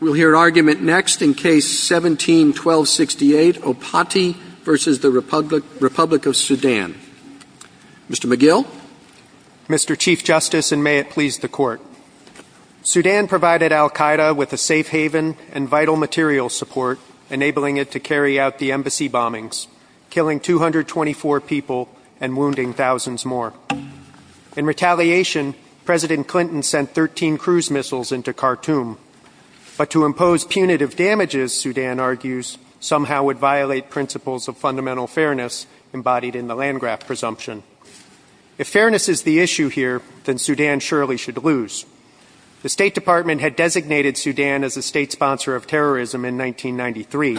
We'll hear argument next in Case 17-1268, Opati v. Republic of Sudan. Mr. McGill? Mr. Chief Justice, and may it please the Court. Sudan provided al-Qaeda with a safe haven and vital material support, enabling it to carry out the embassy bombings, killing 224 people and wounding thousands more. In retaliation, President Clinton sent 13 cruise missiles into Khartoum. But to impose punitive damages, Sudan argues, somehow would violate principles of fundamental fairness embodied in the Landgraf presumption. If fairness is the issue here, then Sudan surely should lose. The State Department had designated Sudan as a state sponsor of terrorism in 1993,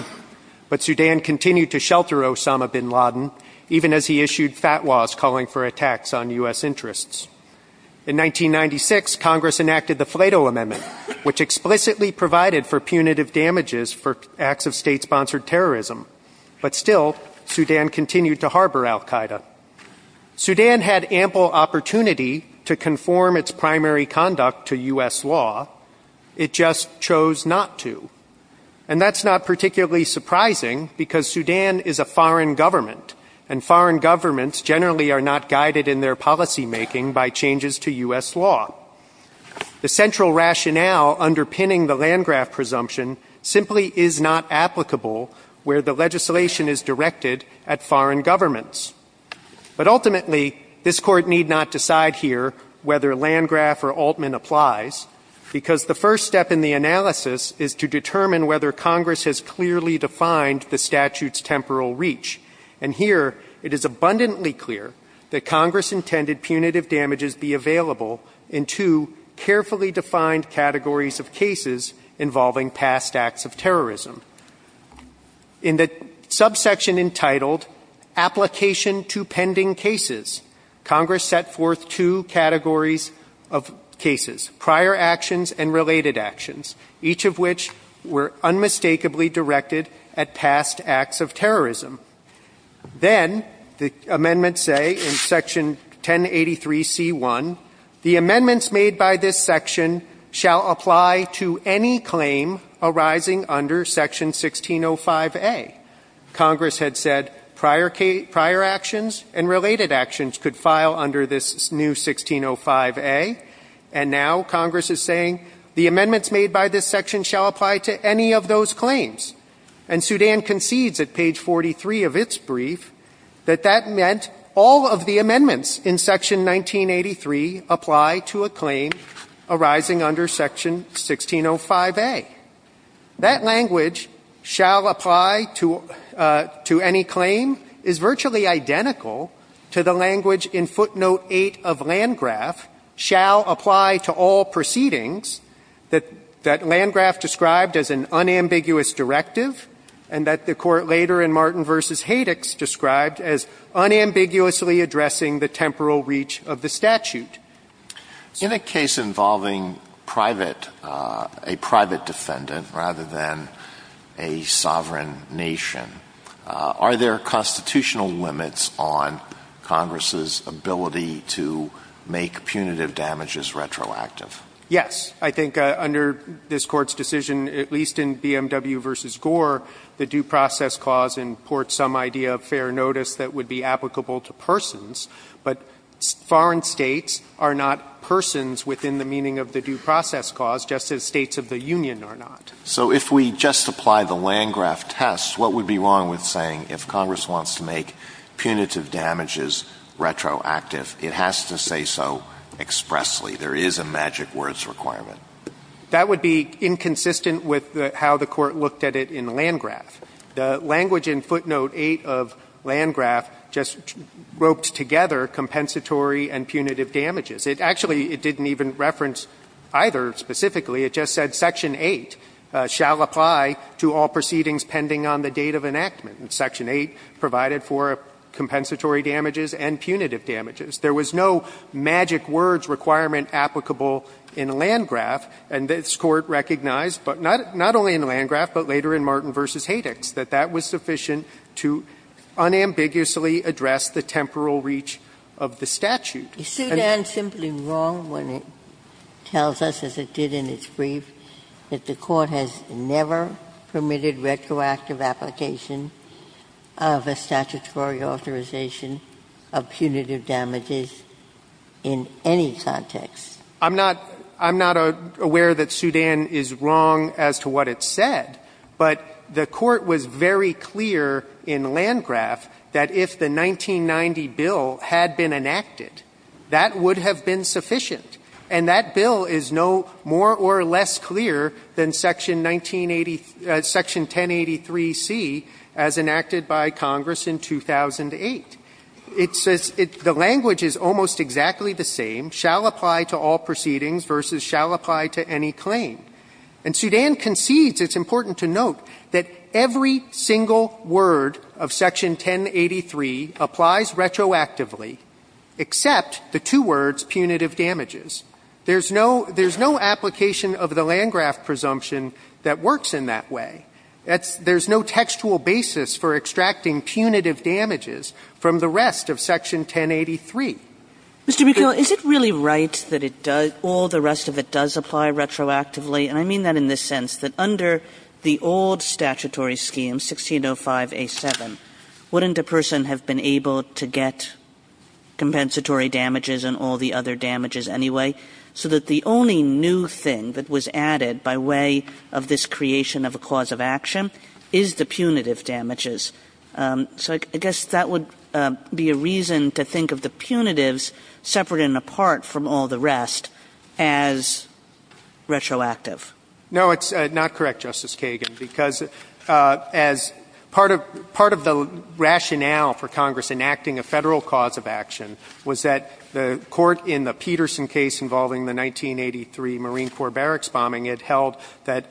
but Sudan continued to shelter Osama bin Laden, even as he issued fatwas calling for attacks on U.S. interests. In 1996, Congress enacted the Flato Amendment, which explicitly provided for punitive damages for acts of state-sponsored terrorism. But still, Sudan continued to harbor al-Qaeda. Sudan had ample opportunity to conform its primary conduct to U.S. law. It just chose not to. And that's not particularly surprising, because Sudan is a foreign government, and foreign governments generally are not guided in their policymaking by changes to U.S. law. The central rationale underpinning the Landgraf presumption simply is not applicable where the legislation is directed at foreign governments. But ultimately, this Court need not decide here whether Landgraf or Altman applies, because the first step in the analysis is to determine whether Congress has clearly defined the statute's temporal reach. And here, it is abundantly clear that Congress intended punitive damages be available in two carefully defined categories of cases involving past acts of terrorism. In the subsection entitled Application to Pending Cases, Congress set forth two categories of cases, prior actions and related actions, each of which were unmistakably directed at past acts of terrorism. Then, the amendments say in section 1083C1, the amendments made by this section shall apply to any claim arising under section 1605A. Congress had said prior actions and related actions could file under this new 1605A, and now Congress is saying the amendments made by this section shall apply to any of those claims. And Sudan concedes at page 43 of its brief that that meant all of the amendments in section 1983 apply to a claim arising under section 1605A. That language, shall apply to any claim, is virtually identical to the language in footnote 8 of Landgraf, shall apply to all proceedings that Landgraf described as an unambiguous directive and that the Court later in Martin v. Hadix described as unambiguously addressing the temporal reach of the statute. So the case involving private, a private defendant rather than a sovereign nation, are there constitutional limits on Congress's ability to make punitive damages retroactive? Yes. I think under this Court's decision, at least in BMW v. Gore, the due process cause imports some idea of fair notice that would be applicable to persons. But foreign states are not persons within the meaning of the due process cause, just as States of the Union are not. So if we just apply the Landgraf test, what would be wrong with saying if Congress wants to make punitive damages retroactive, it has to say so expressly? There is a magic words requirement. That would be inconsistent with how the Court looked at it in Landgraf. The language in footnote 8 of Landgraf just roped together compensatory and punitive damages. It actually didn't even reference either specifically. It just said section 8 shall apply to all proceedings pending on the date of enactment. And section 8 provided for compensatory damages and punitive damages. There was no magic words requirement applicable in Landgraf. And this Court recognized, but not only in Landgraf, but later in Martin v. Haydix, that that was sufficient to unambiguously address the temporal reach of the statute. Ginsburg. Is Sudan simply wrong when it tells us, as it did in its brief, that the Court has never permitted retroactive application of a statutory authorization of punitive damages in any context? I'm not aware that Sudan is wrong as to what it said. But the Court was very clear in Landgraf that if the 1990 bill had been enacted, that would have been sufficient. And that bill is no more or less clear than section 1983C as enacted by Congress in 2008. It says the language is almost exactly the same, shall apply to all proceedings versus shall apply to any claim. And Sudan concedes, it's important to note, that every single word of section 1083 applies retroactively except the two words punitive damages. There's no application of the Landgraf presumption that works in that way. There's no textual basis for extracting punitive damages from the rest of section 1083. Mr. McKeon, is it really right that all the rest of it does apply retroactively? And I mean that in the sense that under the old statutory scheme, 1605A7, wouldn't a person have been able to get compensatory damages and all the other damages anyway, so that the only new thing that was added by way of this creation of a cause of action is the punitive damages? So I guess that would be a reason to think of the punitives separate and apart from all the rest as retroactive. No, it's not correct, Justice Kagan, because as part of the rationale for Congress enacting a Federal cause of action was that the court in the Peterson case involving the 1983 Marine Corps barracks bombing, it held that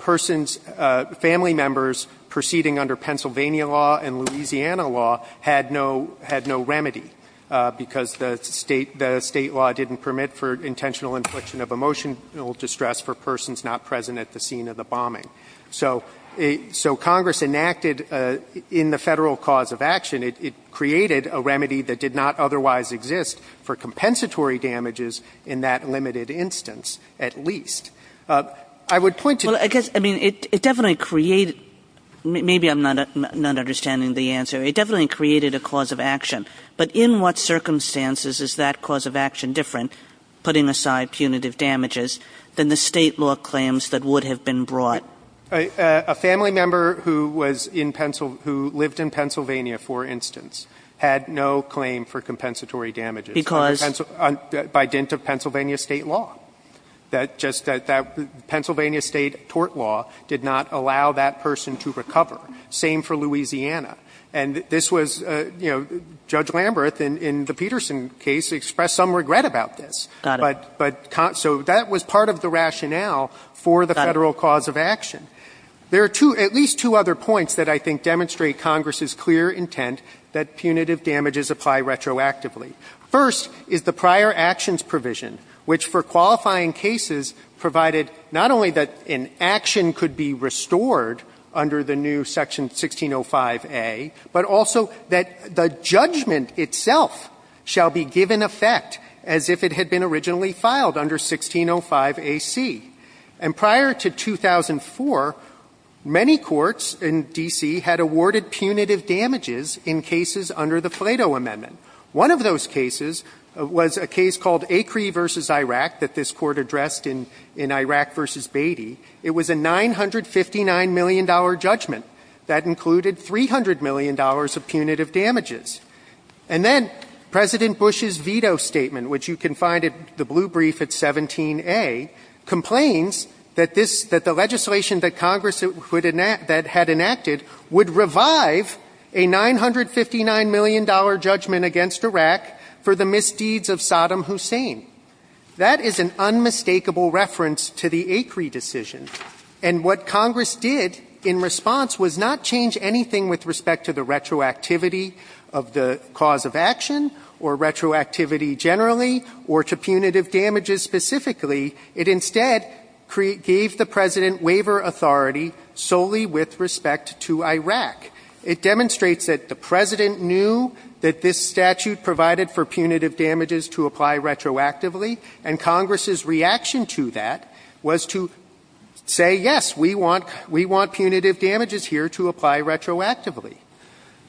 persons, family members proceeding under Pennsylvania law and Louisiana law had no remedy because the State law didn't permit for intentional infliction of emotional distress for persons not present at the scene of the bombing. So Congress enacted in the Federal cause of action, it created a remedy that did not otherwise exist for compensatory damages in that limited instance, at least. I would point to this. Well, I guess, I mean, it definitely created, maybe I'm not understanding the answer, it definitely created a cause of action. But in what circumstances is that cause of action different, putting aside punitive damages, than the State law claims that would have been brought? A family member who was in Pennsylvania, who lived in Pennsylvania, for instance, had no claim for compensatory damages. Because? By dint of Pennsylvania State law. That Pennsylvania State tort law did not allow that person to recover. Same for Louisiana. And this was, you know, Judge Lamberth in the Peterson case expressed some regret about this. Got it. So that was part of the rationale for the Federal cause of action. There are at least two other points that I think demonstrate Congress's clear intent that punitive damages apply retroactively. First is the prior actions provision, which for qualifying cases provided not only that an action could be restored under the new section 1605A, but also that the judgment itself shall be given effect as if it had been originally filed under 1605AC. And prior to 2004, many courts in D.C. had awarded punitive damages in cases under the Plato Amendment. One of those cases was a case called Acree v. Iraq that this Court addressed in Iraq v. Beatty. It was a $959 million judgment. That included $300 million of punitive damages. And then President Bush's veto statement, which you can find at the blue brief at 17A, complains that the legislation that Congress had enacted would revive a $959 million judgment against Iraq for the misdeeds of Saddam Hussein. That is an unmistakable reference to the Acree decision. And what Congress did in response was not change anything with respect to the retroactivity of the cause of action or retroactivity generally or to punitive damages specifically. It instead gave the President waiver authority solely with respect to Iraq. It demonstrates that the President knew that this statute provided for punitive damages to apply retroactively. And Congress's reaction to that was to say, yes, we want punitive damages here to apply retroactively.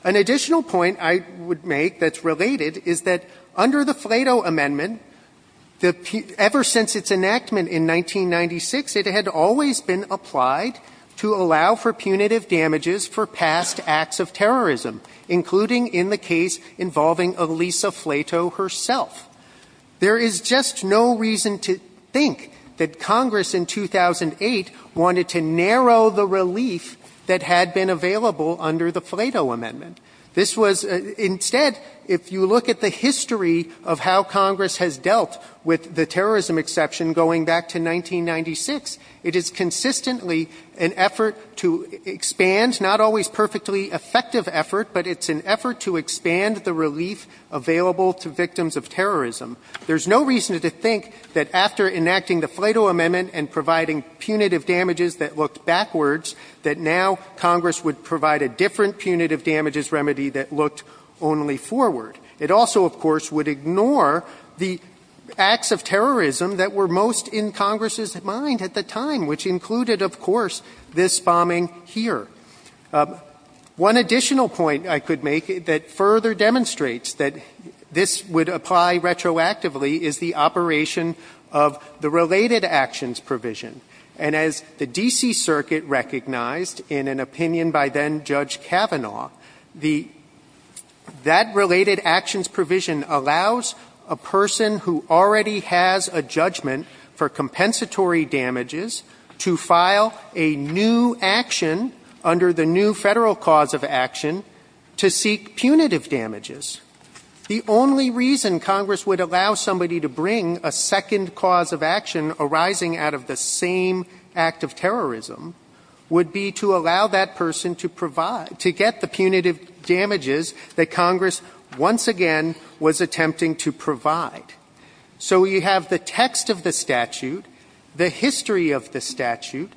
An additional point I would make that's related is that under the Plato Amendment, ever since its enactment in 1996, it had always been applied to allow for punitive damages for past acts of terrorism, including in the case involving Elisa Plato herself. There is just no reason to think that Congress in 2008 wanted to narrow the relief that had been available under the Plato Amendment. This was instead, if you look at the history of how Congress has dealt with the terrorism exception going back to 1996, it is consistently an effort to expand, not always perfectly effective effort, but it's an effort to expand the relief available to victims of terrorism. There's no reason to think that after enacting the Plato Amendment and providing punitive damages that looked backwards, that now Congress would provide a different punitive damages remedy that looked only forward. It also, of course, would ignore the acts of terrorism that were most in Congress's mind at the time, which included, of course, this bombing here. One additional point I could make that further demonstrates that this would apply retroactively is the operation of the related actions provision. And as the D.C. Circuit recognized in an opinion by then-Judge Kavanaugh, that related actions provision allows a person who already has a judgment for compensatory damages to file a new action under the new Federal cause of action to seek punitive damages. The only reason Congress would allow somebody to bring a second cause of action arising out of the same act of terrorism would be to allow that person to provide to get the punitive damages that Congress once again was attempting to provide. So we have the text of the statute, the history of the statute,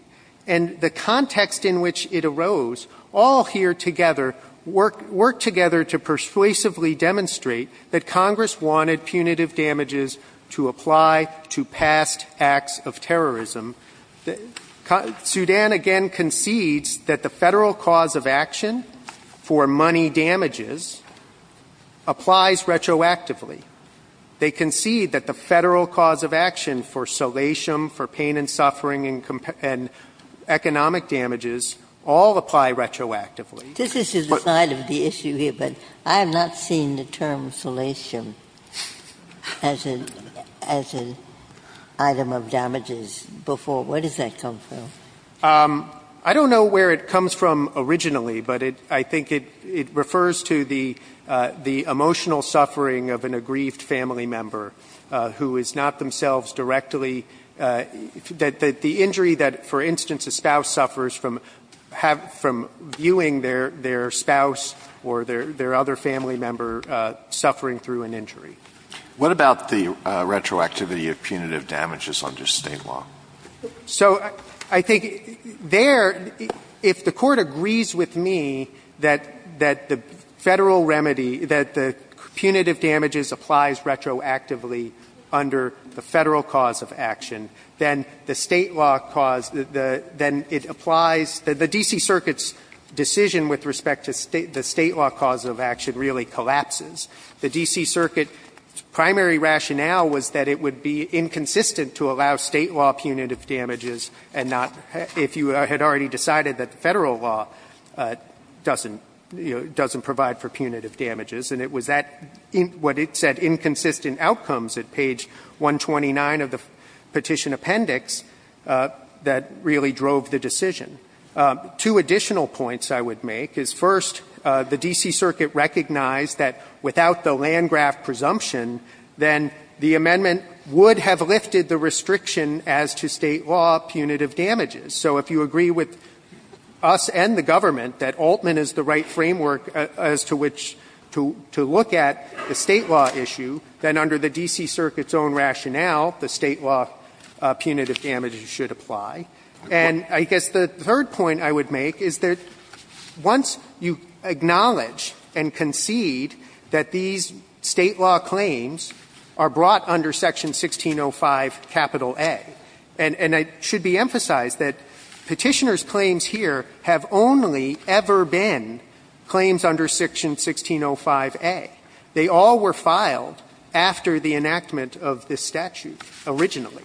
and the context in which it arose all here together work together to persuasively demonstrate that Congress wanted punitive damages to apply to past acts of terrorism. Sudan, again, concedes that the Federal cause of action for money damages applies retroactively. They concede that the Federal cause of action for salatium, for pain and suffering and economic damages all apply retroactively. This is just the side of the issue here, but I have not seen the term salatium as an item of damages before. Where does that come from? I don't know where it comes from originally, but I think it refers to the emotional suffering of an aggrieved family member who is not themselves directly the injury that, for instance, a spouse suffers from viewing their spouse or their other family member suffering through an injury. What about the retroactivity of punitive damages under State law? So I think there, if the Court agrees with me that the Federal remedy, that the punitive damages applies retroactively under the Federal cause of action, then the State law cause, then it applies. The D.C. Circuit's decision with respect to the State law cause of action really collapses. The D.C. Circuit's primary rationale was that it would be inconsistent to allow State law punitive damages and not, if you had already decided that Federal law doesn't provide for punitive damages, and it was that, what it said, inconsistent outcomes at page 129 of the Petition Appendix that really drove the decision. Two additional points I would make is, first, the D.C. Circuit recognized that without the Landgraf presumption, then the amendment would have lifted the restriction as to State law punitive damages. So if you agree with us and the government that Altman is the right framework as to which to look at the State law issue, then under the D.C. Circuit's own rationale, the State law punitive damages should apply. And I guess the third point I would make is that once you acknowledge and concede that these State law claims are brought under Section 1605 capital A, and it should be emphasized that Petitioner's claims here have only ever been claims under Section 1605A. They all were filed after the enactment of this statute originally.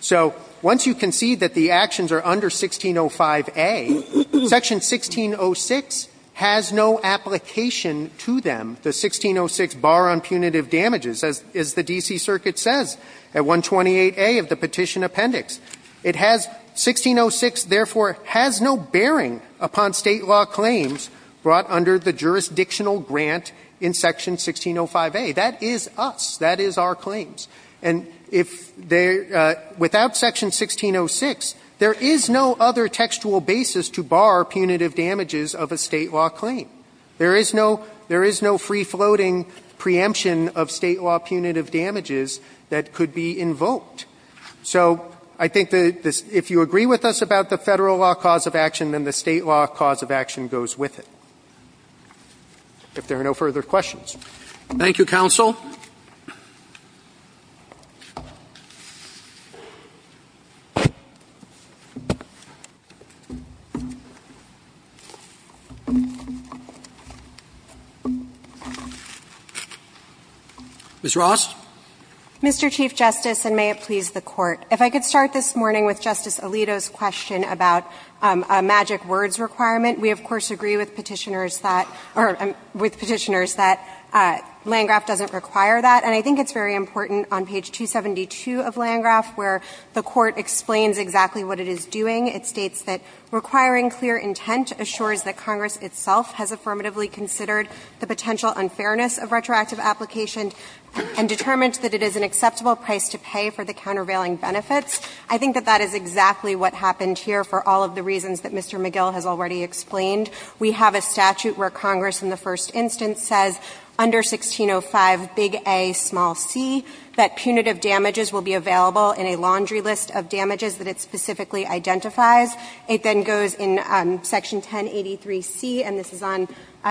So once you concede that the actions are under 1605A, Section 1606 has no application to them, the 1606 bar on punitive damages, as the D.C. Circuit says, at 128A of the Petition Appendix. It has 1606, therefore, has no bearing upon State law claims brought under the jurisdictional grant in Section 1605A. That is us. That is our claims. And if there – without Section 1606, there is no other textual basis to bar punitive damages of a State law claim. There is no free-floating preemption of State law punitive damages that could be invoked. So I think that if you agree with us about the Federal law cause of action, then the State law cause of action goes with it. If there are no further questions. Roberts. Thank you, counsel. Ms. Ross. Mr. Chief Justice, and may it please the Court. If I could start this morning with Justice Alito's question about a magic words requirement. We, of course, agree with Petitioners that Landgraf doesn't require that. And I think it's very important on page 272 of Landgraf where the Court explains exactly what it is doing. It states that requiring clear intent assures that Congress itself has affirmatively considered the potential unfairness of retroactive application and determined that it is an acceptable price to pay for the countervailing benefits. I think that that is exactly what happened here for all of the reasons that Mr. McGill has already explained. We have a statute where Congress in the first instance says under 1605, big A, small C, that punitive damages will be available in a laundry list of damages that it specifically identifies. It then goes in section 1083C, and this is on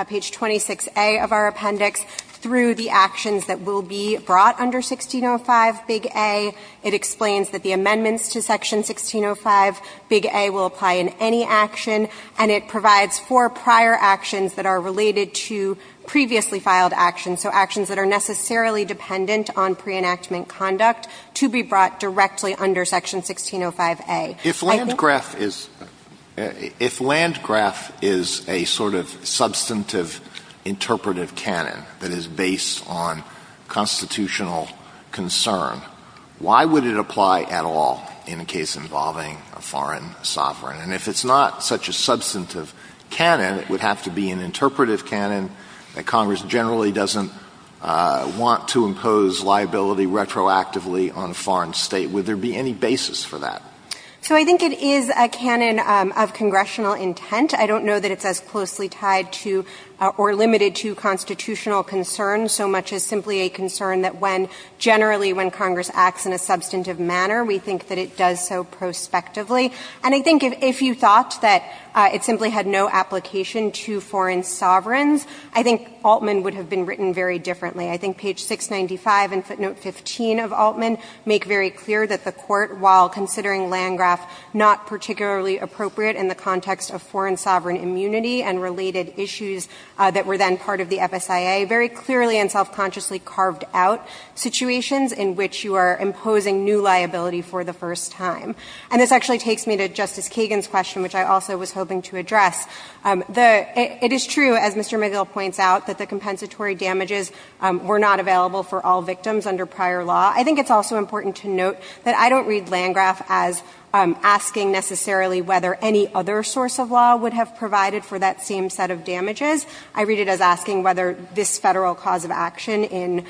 page 26A of our appendix, through the actions that will be brought under 1605, big A. It explains that the amendments to section 1605, big A, will apply in any action. And it provides for prior actions that are related to previously filed actions, so actions that are necessarily dependent on pre-enactment conduct to be brought directly under section 1605A. If Landgraf is — if Landgraf is a sort of substantive interpretive canon that is based on constitutional concern, why would it apply at all in a case involving a foreign sovereign? And if it's not such a substantive canon, it would have to be an interpretive canon that Congress generally doesn't want to impose liability retroactively on a foreign state. Would there be any basis for that? So I think it is a canon of congressional intent. I don't know that it's as closely tied to or limited to constitutional concern, so much as simply a concern that when, generally, when Congress acts in a substantive manner, we think that it does so prospectively. And I think if you thought that it simply had no application to foreign sovereigns, I think Altman would have been written very differently. I think page 695 and footnote 15 of Altman make very clear that the Court, while considering Landgraf not particularly appropriate in the context of foreign sovereign immunity and related issues that were then part of the FSIA, very clearly and self-consciously carved out situations in which you are imposing new liability for the first time. And this actually takes me to Justice Kagan's question, which I also was hoping to address. The — it is true, as Mr. McGill points out, that the compensatory damages were not available for all victims under prior law. I think it's also important to note that I don't read Landgraf as asking necessarily whether any other source of law would have provided for that same set of damages. I read it as asking whether this Federal cause of action in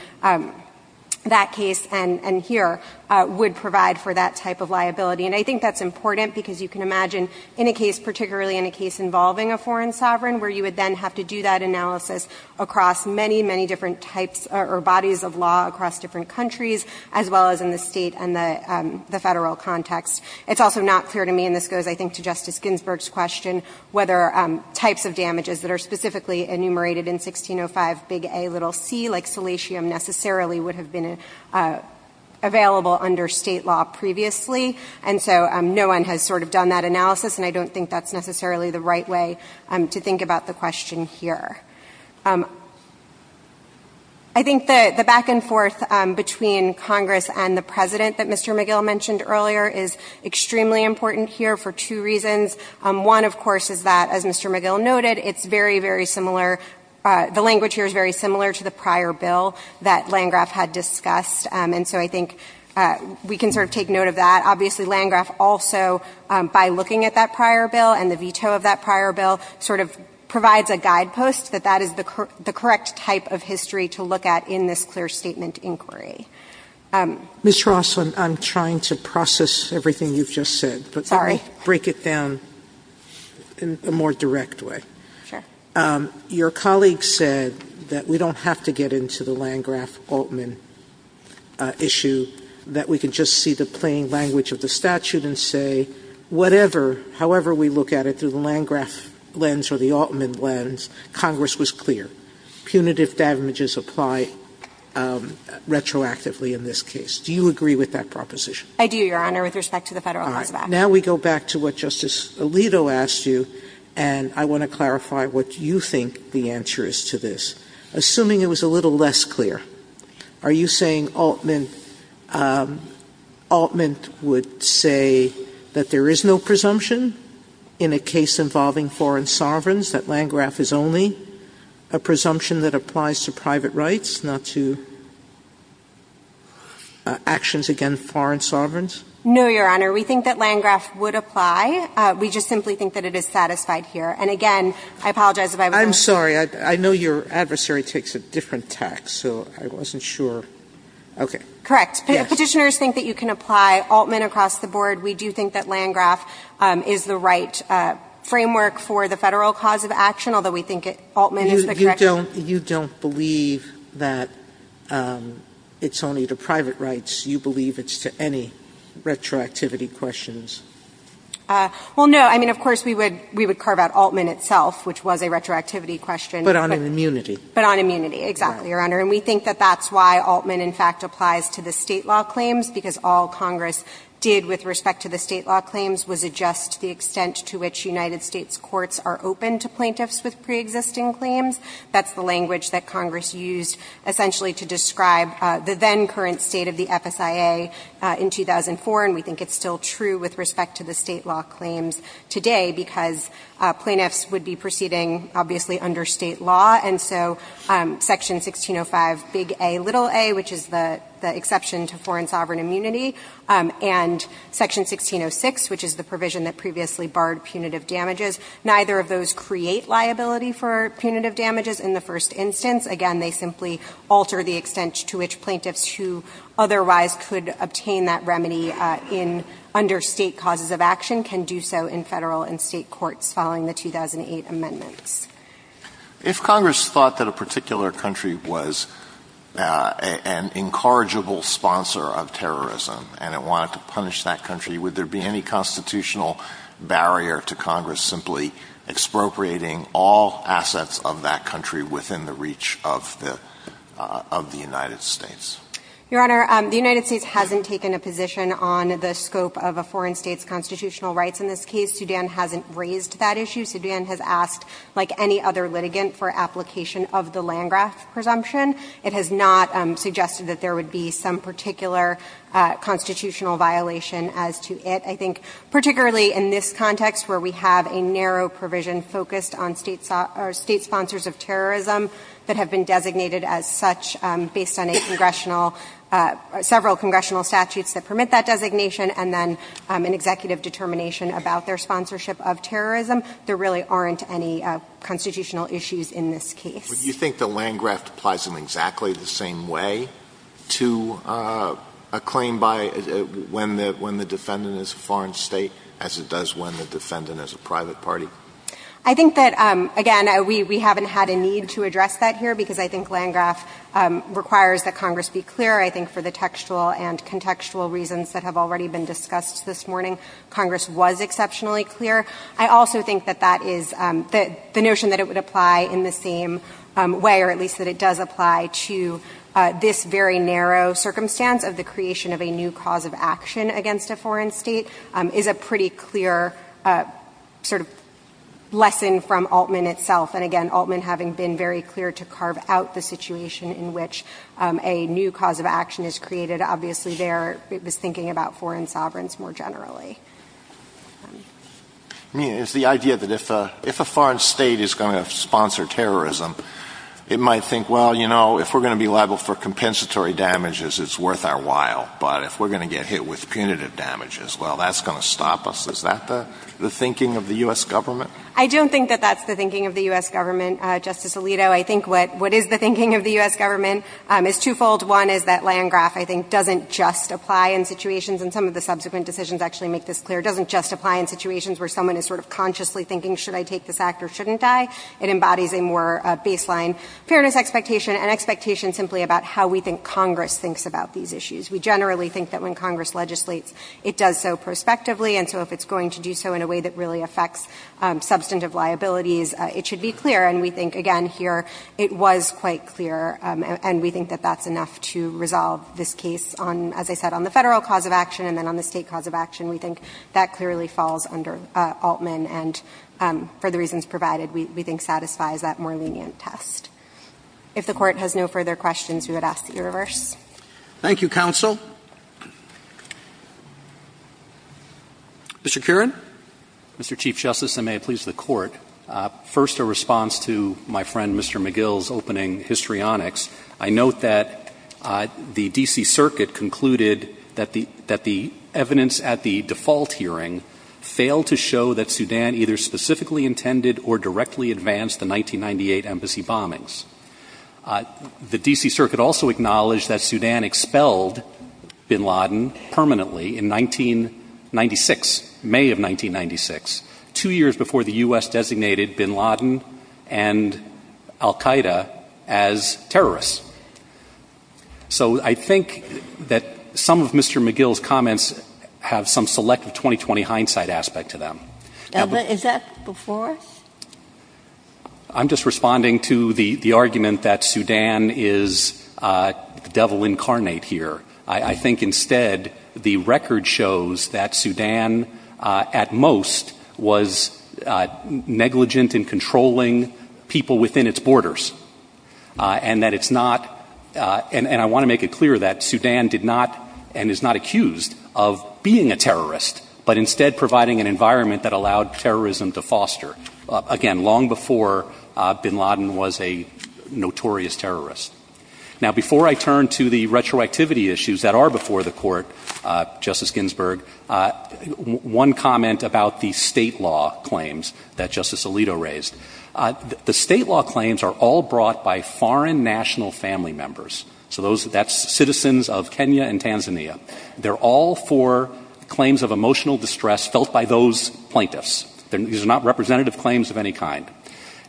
that case and — and here would provide for that type of liability. And I think that's important, because you can imagine, in a case — particularly in a case involving a foreign sovereign, where you would then have to do that analysis across many, many different types or bodies of law across different countries, as well as in the State and the — the Federal context. It's also not clear to me, and this goes, I think, to Justice Ginsburg's question, whether types of damages that are specifically enumerated in 1605, A little c, like salatium, necessarily would have been available under State law previously. And so no one has sort of done that analysis, and I don't think that's necessarily the right way to think about the question here. I think the — the back and forth between Congress and the President that Mr. McGill mentioned earlier is extremely important here for two reasons. One, of course, is that, as Mr. McGill noted, it's very, very similar — the language here is very similar to the prior bill that Landgraf had discussed. And so I think we can sort of take note of that. Obviously, Landgraf also, by looking at that prior bill and the veto of that prior bill, sort of provides a guidepost that that is the correct type of history to look at in this clear statement inquiry. Sotomayor. Ms. Ross, I'm trying to process everything you've just said. Sorry. But let me break it down in a more direct way. Sure. Your colleague said that we don't have to get into the Landgraf-Altman issue, that we can just see the plain language of the statute and say, whatever, however we look at it through the Landgraf lens or the Altman lens, Congress was clear. Punitive damages apply retroactively in this case. Do you agree with that proposition? I do, Your Honor, with respect to the Federal cause of action. All right. Now we go back to what Justice Alito asked you, and I want to clarify what you think the answer is to this. Assuming it was a little less clear, are you saying Altman – Altman would say that there is no presumption in a case involving foreign sovereigns, that Landgraf is only a presumption that applies to private rights, not to actions against foreign sovereigns? No, Your Honor. We think that Landgraf would apply. We just simply think that it is satisfied here. And again, I apologize if I was wrong. I'm sorry. I know your adversary takes a different tack, so I wasn't sure. Okay. Correct. Petitioners think that you can apply Altman across the board. We do think that Landgraf is the right framework for the Federal cause of action, although we think Altman is the correct one. You don't believe that it's only to private rights. You believe it's to any retroactivity questions. Well, no. I mean, of course, we would carve out Altman itself, which was a retroactivity question. But on immunity. But on immunity. Exactly, Your Honor. And we think that that's why Altman, in fact, applies to the State law claims, because all Congress did with respect to the State law claims was adjust the extent to which United States courts are open to plaintiffs with preexisting claims. That's the language that Congress used essentially to describe the then current State of the FSIA in 2004, and we think it's still true with respect to the State law claims today, because plaintiffs would be proceeding, obviously, under State law. And so Section 1605, big A, little a, which is the exception to foreign sovereign immunity, and Section 1606, which is the provision that previously barred punitive damages, neither of those create liability for punitive damages in the first instance. Again, they simply alter the extent to which plaintiffs who otherwise could obtain that remedy in under State causes of action can do so in Federal and State courts following the 2008 amendments. If Congress thought that a particular country was an incorrigible sponsor of terrorism and it wanted to punish that country, would there be any constitutional barrier to Congress simply expropriating all assets of that country within the reach of the United States? Your Honor, the United States hasn't taken a position on the scope of a foreign State's constitutional rights in this case. Sudan hasn't raised that issue. Sudan has asked, like any other litigant, for application of the Landgraf presumption. It has not suggested that there would be some particular constitutional violation as to it. I think particularly in this context, where we have a narrow provision focused on State sponsors of terrorism that have been designated as such based on a congressional – several congressional statutes that permit that designation, and then an executive determination about their sponsorship of terrorism, there really aren't any constitutional issues in this case. Alito Do you think the Landgraf applies in exactly the same way to a claim by when the defendant is a foreign State as it does when the defendant is a private party? I think that, again, we haven't had a need to address that here, because I think it's clear, I think, for the textual and contextual reasons that have already been discussed this morning, Congress was exceptionally clear. I also think that that is – the notion that it would apply in the same way, or at least that it does apply to this very narrow circumstance of the creation of a new cause of action against a foreign State, is a pretty clear sort of lesson from Altman itself. And again, Altman having been very clear to carve out the situation in which a new cause of action is created, obviously there it was thinking about foreign sovereigns more generally. I mean, it's the idea that if a foreign State is going to sponsor terrorism, it might think, well, you know, if we're going to be liable for compensatory damages, it's worth our while, but if we're going to get hit with punitive damages, well, that's going to stop us. Is that the thinking of the U.S. government? I don't think that that's the thinking of the U.S. government, Justice Alito. I think what is the thinking of the U.S. government is twofold. One is that Landgraf, I think, doesn't just apply in situations, and some of the subsequent decisions actually make this clear, doesn't just apply in situations where someone is sort of consciously thinking, should I take this act or shouldn't I? It embodies a more baseline fairness expectation, an expectation simply about how we think Congress thinks about these issues. We generally think that when Congress legislates, it does so prospectively, and so if it's going to do so in a way that really affects substantive liabilities, it should be clear. And we think, again, here, it was quite clear, and we think that that's enough to resolve this case on, as I said, on the Federal cause of action and then on the State cause of action. We think that clearly falls under Altman, and for the reasons provided, we think satisfies that more lenient test. If the Court has no further questions, we would ask that you reverse. Thank you, counsel. Mr. Curran. Mr. Chief Justice, and may it please the Court, first a response to my friend Mr. McGill's opening histrionics. I note that the D.C. Circuit concluded that the evidence at the default hearing failed to show that Sudan either specifically intended or directly advanced the 1998 embassy bombings. The D.C. Circuit also acknowledged that Sudan expelled bin Laden permanently in 1996, May of 1996, two years before the U.S. designated bin Laden and al-Qaeda as terrorists. So I think that some of Mr. McGill's comments have some selective 2020 hindsight aspect to them. Is that before us? I'm just responding to the argument that Sudan is the devil incarnate here. I think instead the record shows that Sudan at most was negligent in controlling people within its borders. And that it's not, and I want to make it clear that Sudan did not and is not accused of being a terrorist, but instead providing an environment that allowed terrorism to foster. Again, long before bin Laden was a notorious terrorist. Now before I turn to the retroactivity issues that are before the Court, Justice Ginsburg, one comment about the state law claims that Justice Alito raised. The state law claims are all brought by foreign national family members. So that's citizens of Kenya and Tanzania. They're all for claims of emotional distress felt by those plaintiffs. These are not representative claims of any kind.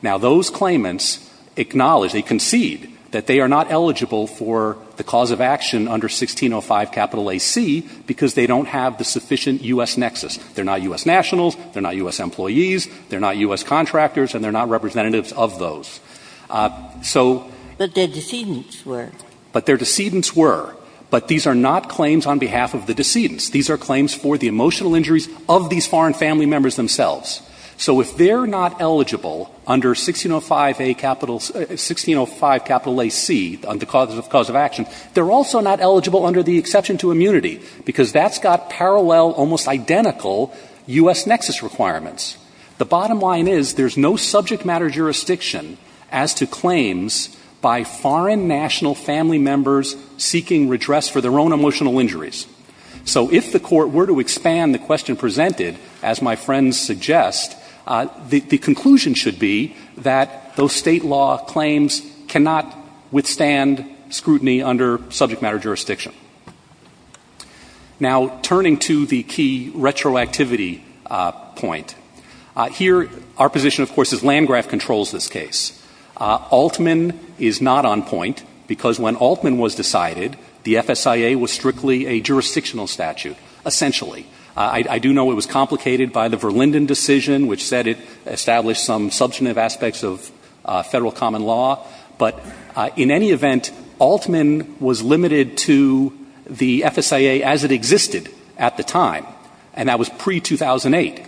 Now those claimants acknowledge, they concede, that they are not eligible for the cause of action under 1605 capital AC because they don't have the sufficient U.S. nexus. They're not U.S. nationals, they're not U.S. employees, they're not U.S. contractors, and they're not representatives of those. But their decedents were. But their decedents were. But these are not claims on behalf of the decedents. These are claims for the emotional injuries of these foreign family members themselves. So if they're not eligible under 1605 capital AC, the cause of action, they're also not eligible under the exception to immunity because that's got parallel, almost identical, U.S. nexus requirements. The bottom line is there's no subject matter jurisdiction as to claims by foreign national family members seeking redress for their own emotional injuries. So if the court were to expand the question presented, as my friends suggest, the conclusion should be that those state law claims cannot withstand scrutiny under subject matter jurisdiction. Now turning to the key retroactivity point. Here our position, of course, is Landgraf controls this case. Altman is not on point because when Altman was decided, the FSIA was strictly a jurisdictional statute, essentially. I do know it was complicated by the Verlinden decision, which said it established some substantive aspects of federal common law. But in any event, Altman was limited to the FSIA as it existed at the time, and that was pre-2008.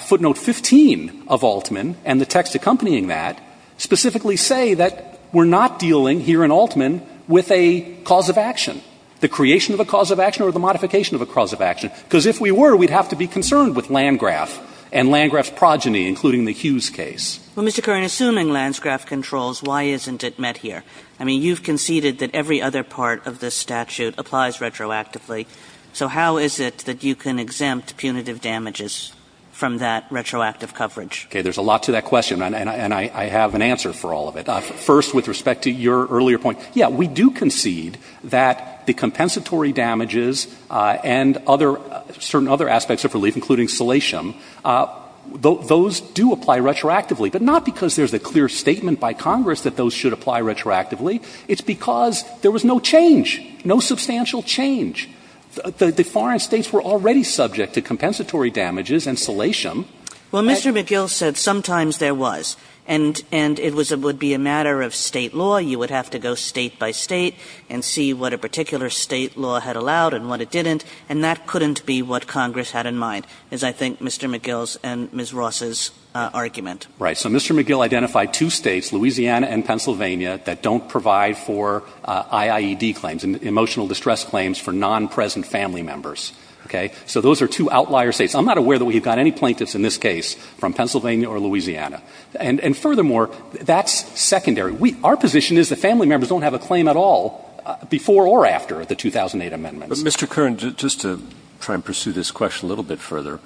Footnote 15 of Altman and the text accompanying that specifically say that we're not dealing here in Altman with a cause of action, the creation of a cause of action or the modification of a cause of action, because if we were, we'd have to be concerned with Landgraf and Landgraf's progeny, including the Hughes case. Kagan. Well, Mr. Curran, assuming Landgraf controls, why isn't it met here? I mean, you've conceded that every other part of this statute applies retroactively, so how is it that you can exempt punitive damages from that retroactive coverage? Okay. There's a lot to that question, and I have an answer for all of it. First, with respect to your earlier point, yeah, we do concede that the compensatory damages and other – certain other aspects of relief, including salation, those do apply retroactively, but not because there's a clear statement by Congress that those should apply retroactively. It's because there was no change, no substantial change. The foreign States were already subject to compensatory damages and salation. Well, Mr. McGill said sometimes there was, and it would be a matter of State law. You would have to go State by State and see what a particular State law had allowed and what it didn't, and that couldn't be what Congress had in mind, is I think Mr. McGill's and Ms. Ross's argument. Right. So Mr. McGill identified two States, Louisiana and Pennsylvania, that don't provide for IIED claims, emotional distress claims for non-present family members. Okay. So those are two outlier States. I'm not aware that we've got any plaintiffs in this case from Pennsylvania or Louisiana. And furthermore, that's secondary. Our position is that family members don't have a claim at all before or after the 2008 amendments. But, Mr. Curran, just to try and pursue this question a little bit further,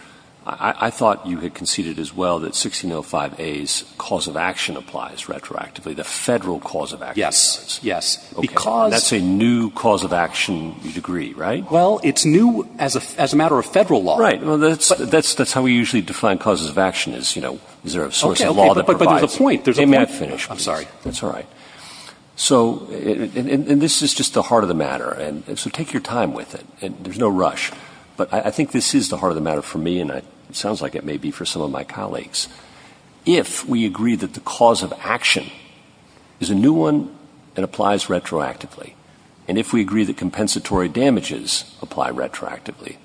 I thought you had conceded as well that 1605a's cause of action applies retroactively, the Federal cause of action. Yes. Yes. Because That's a new cause of action degree, right? Well, it's new as a matter of Federal law. Right. Well, that's how we usually define causes of action is, you know, is there a source of law that provides it. Okay. Okay. But there's a point. There's a point. May I finish, please? I'm sorry. That's all right. So, and this is just the heart of the matter. And so take your time with it. There's no rush. But I think this is the heart of the matter for me, and it sounds like it may be for some of my colleagues. If we agree that the cause of action is a new one and applies retroactively, and if we agree that compensatory damages apply retroactively,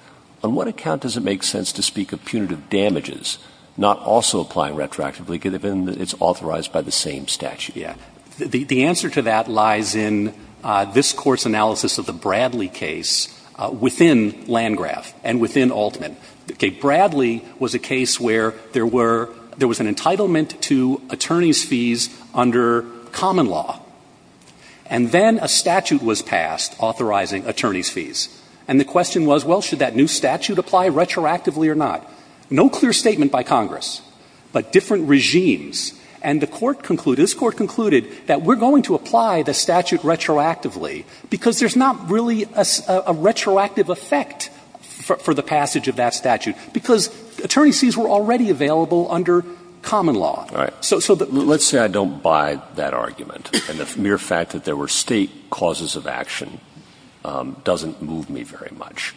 on what account does it make sense to speak of punitive damages not also applying retroactively given that it's authorized by the same statute? Yeah. The answer to that lies in this Court's analysis of the Bradley case within Landau Landgraf and within Altman. Okay. Bradley was a case where there were, there was an entitlement to attorney's fees under common law. And then a statute was passed authorizing attorney's fees. And the question was, well, should that new statute apply retroactively or not? No clear statement by Congress, but different regimes. And the Court concluded, this Court concluded that we're going to apply the statute retroactively because there's not really a retroactive effect for the passage of that statute, because attorney's fees were already available under common law. All right. Let's say I don't buy that argument. And the mere fact that there were State causes of action doesn't move me very much.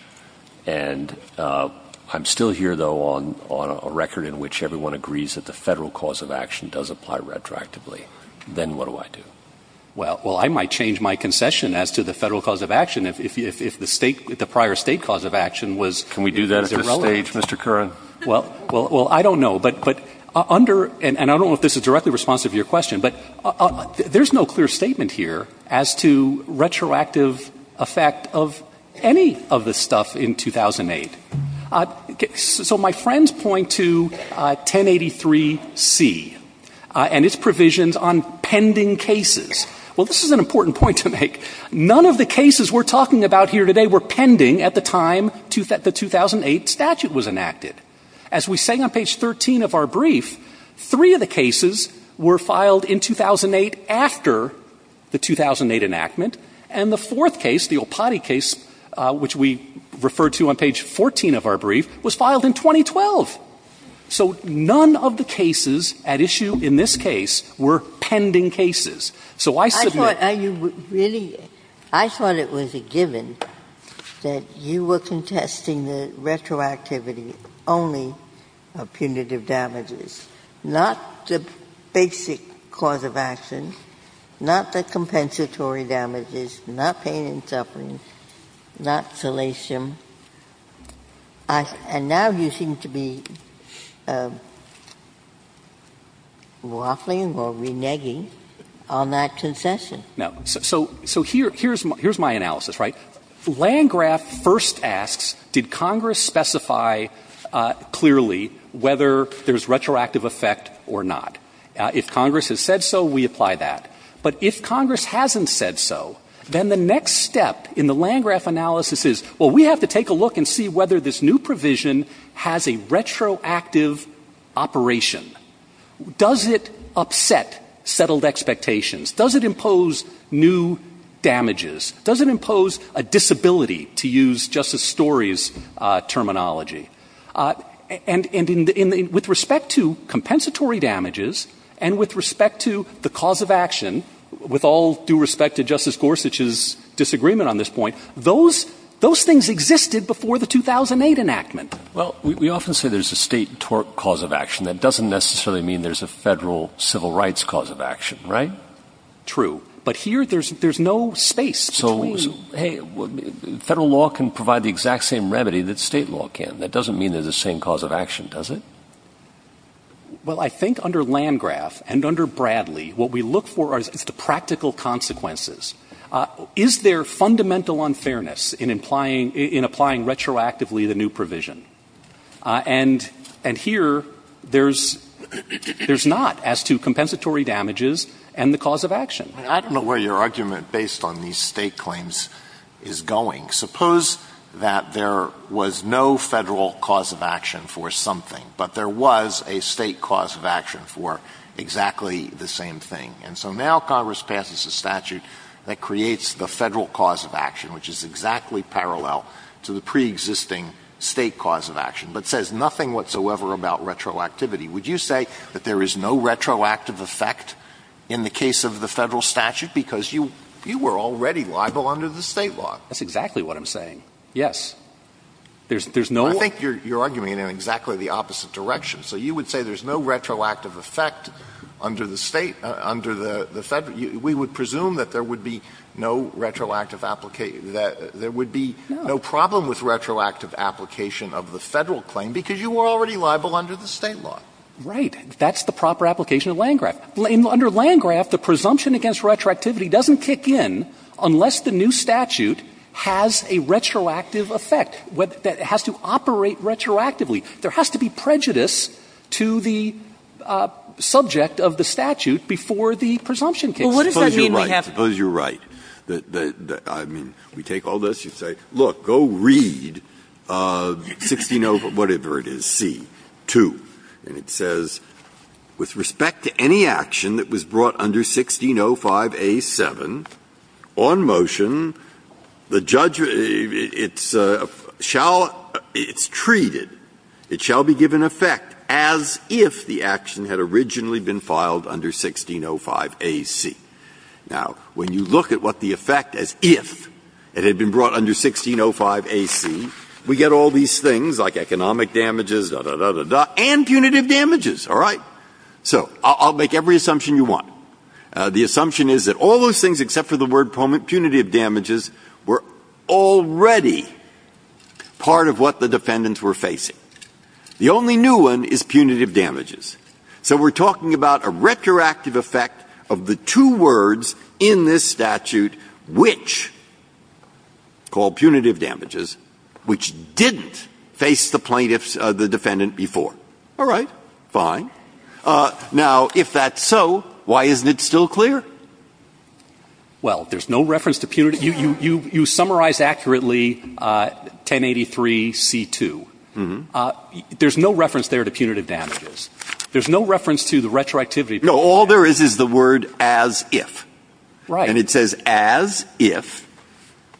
And I'm still here, though, on a record in which everyone agrees that the Federal cause of action does apply retroactively. Then what do I do? Well, I might change my concession as to the Federal cause of action if the State the prior State cause of action was irrelevant. Can we do that at this stage, Mr. Curran? Well, I don't know. But under, and I don't know if this is directly responsive to your question, but there's no clear statement here as to retroactive effect of any of this stuff in 2008. So my friends point to 1083C and its provisions on pending cases. Well, this is an important point to make. None of the cases we're talking about here today were pending at the time the 2008 statute was enacted. As we say on page 13 of our brief, three of the cases were filed in 2008 after the 2008 enactment. And the fourth case, the Olpate case, which we refer to on page 14 of our brief, was filed in 2012. So none of the cases at issue in this case were pending cases. So I submit. Ginsburg. I thought it was a given that you were contesting the retroactivity only of punitive damages, not the basic cause of action, not the compensatory damages. Not pain and suffering. Not salatium. And now you seem to be waffling or reneging on that concession. No. So here's my analysis, right? Landgraf first asks, did Congress specify clearly whether there's retroactive effect or not? If Congress has said so, we apply that. But if Congress hasn't said so, then the next step in the Landgraf analysis is, well, we have to take a look and see whether this new provision has a retroactive operation. Does it upset settled expectations? Does it impose new damages? Does it impose a disability, to use Justice Story's terminology? And with respect to compensatory damages and with respect to the cause of action, with all due respect to Justice Gorsuch's disagreement on this point, those things existed before the 2008 enactment. Well, we often say there's a state cause of action. That doesn't necessarily mean there's a Federal civil rights cause of action, right? True. But here there's no space between. So, hey, Federal law can provide the exact same remedy that State law can. That doesn't mean there's the same cause of action, does it? Well, I think under Landgraf and under Bradley, what we look for is the practical consequences. Is there fundamental unfairness in applying retroactively the new provision? And here there's not as to compensatory damages and the cause of action. I don't know where your argument based on these State claims is going. Suppose that there was no Federal cause of action for something, but there was a State cause of action for exactly the same thing. And so now Congress passes a statute that creates the Federal cause of action, which is exactly parallel to the preexisting State cause of action, but says nothing whatsoever about retroactivity. Would you say that there is no retroactive effect in the case of the Federal statute because you were already liable under the State law? That's exactly what I'm saying. Yes. There's no way. I think you're arguing it in exactly the opposite direction. So you would say there's no retroactive effect under the State, under the Federal we would presume that there would be no retroactive application, that there would be no problem with retroactive application of the Federal claim because you were already liable under the State law. Right. That's the proper application of Landgraf. Under Landgraf, the presumption against retroactivity doesn't kick in unless the new statute has a retroactive effect, that it has to operate retroactively. There has to be prejudice to the subject of the statute before the presumption kicks in. Well, what does that mean we have to do? Suppose you're right. Suppose you're right. I mean, we take all this. You say, look, go read 16.0 whatever it is, C. 2. And it says, With respect to any action that was brought under 16.05a.7, on motion, the judge shall, it's treated, it shall be given effect as if the action had originally been filed under 16.05a.C. Now, when you look at what the effect as if it had been brought under 16.05a.C., we get all these things like economic damages, da, da, da, da, and punitive damages. All right. So I'll make every assumption you want. The assumption is that all those things except for the word punitive damages were already part of what the defendants were facing. The only new one is punitive damages. So we're talking about a retroactive effect of the two words in this statute which, called punitive damages, which didn't face the plaintiffs, the defendant before. All right. Fine. Now, if that's so, why isn't it still clear? Well, there's no reference to punitive. You, you, you, you summarize accurately 1083C.2. Mm-hmm. There's no reference there to punitive damages. There's no reference to the retroactivity. No. All there is is the word as if. Right. And it says as if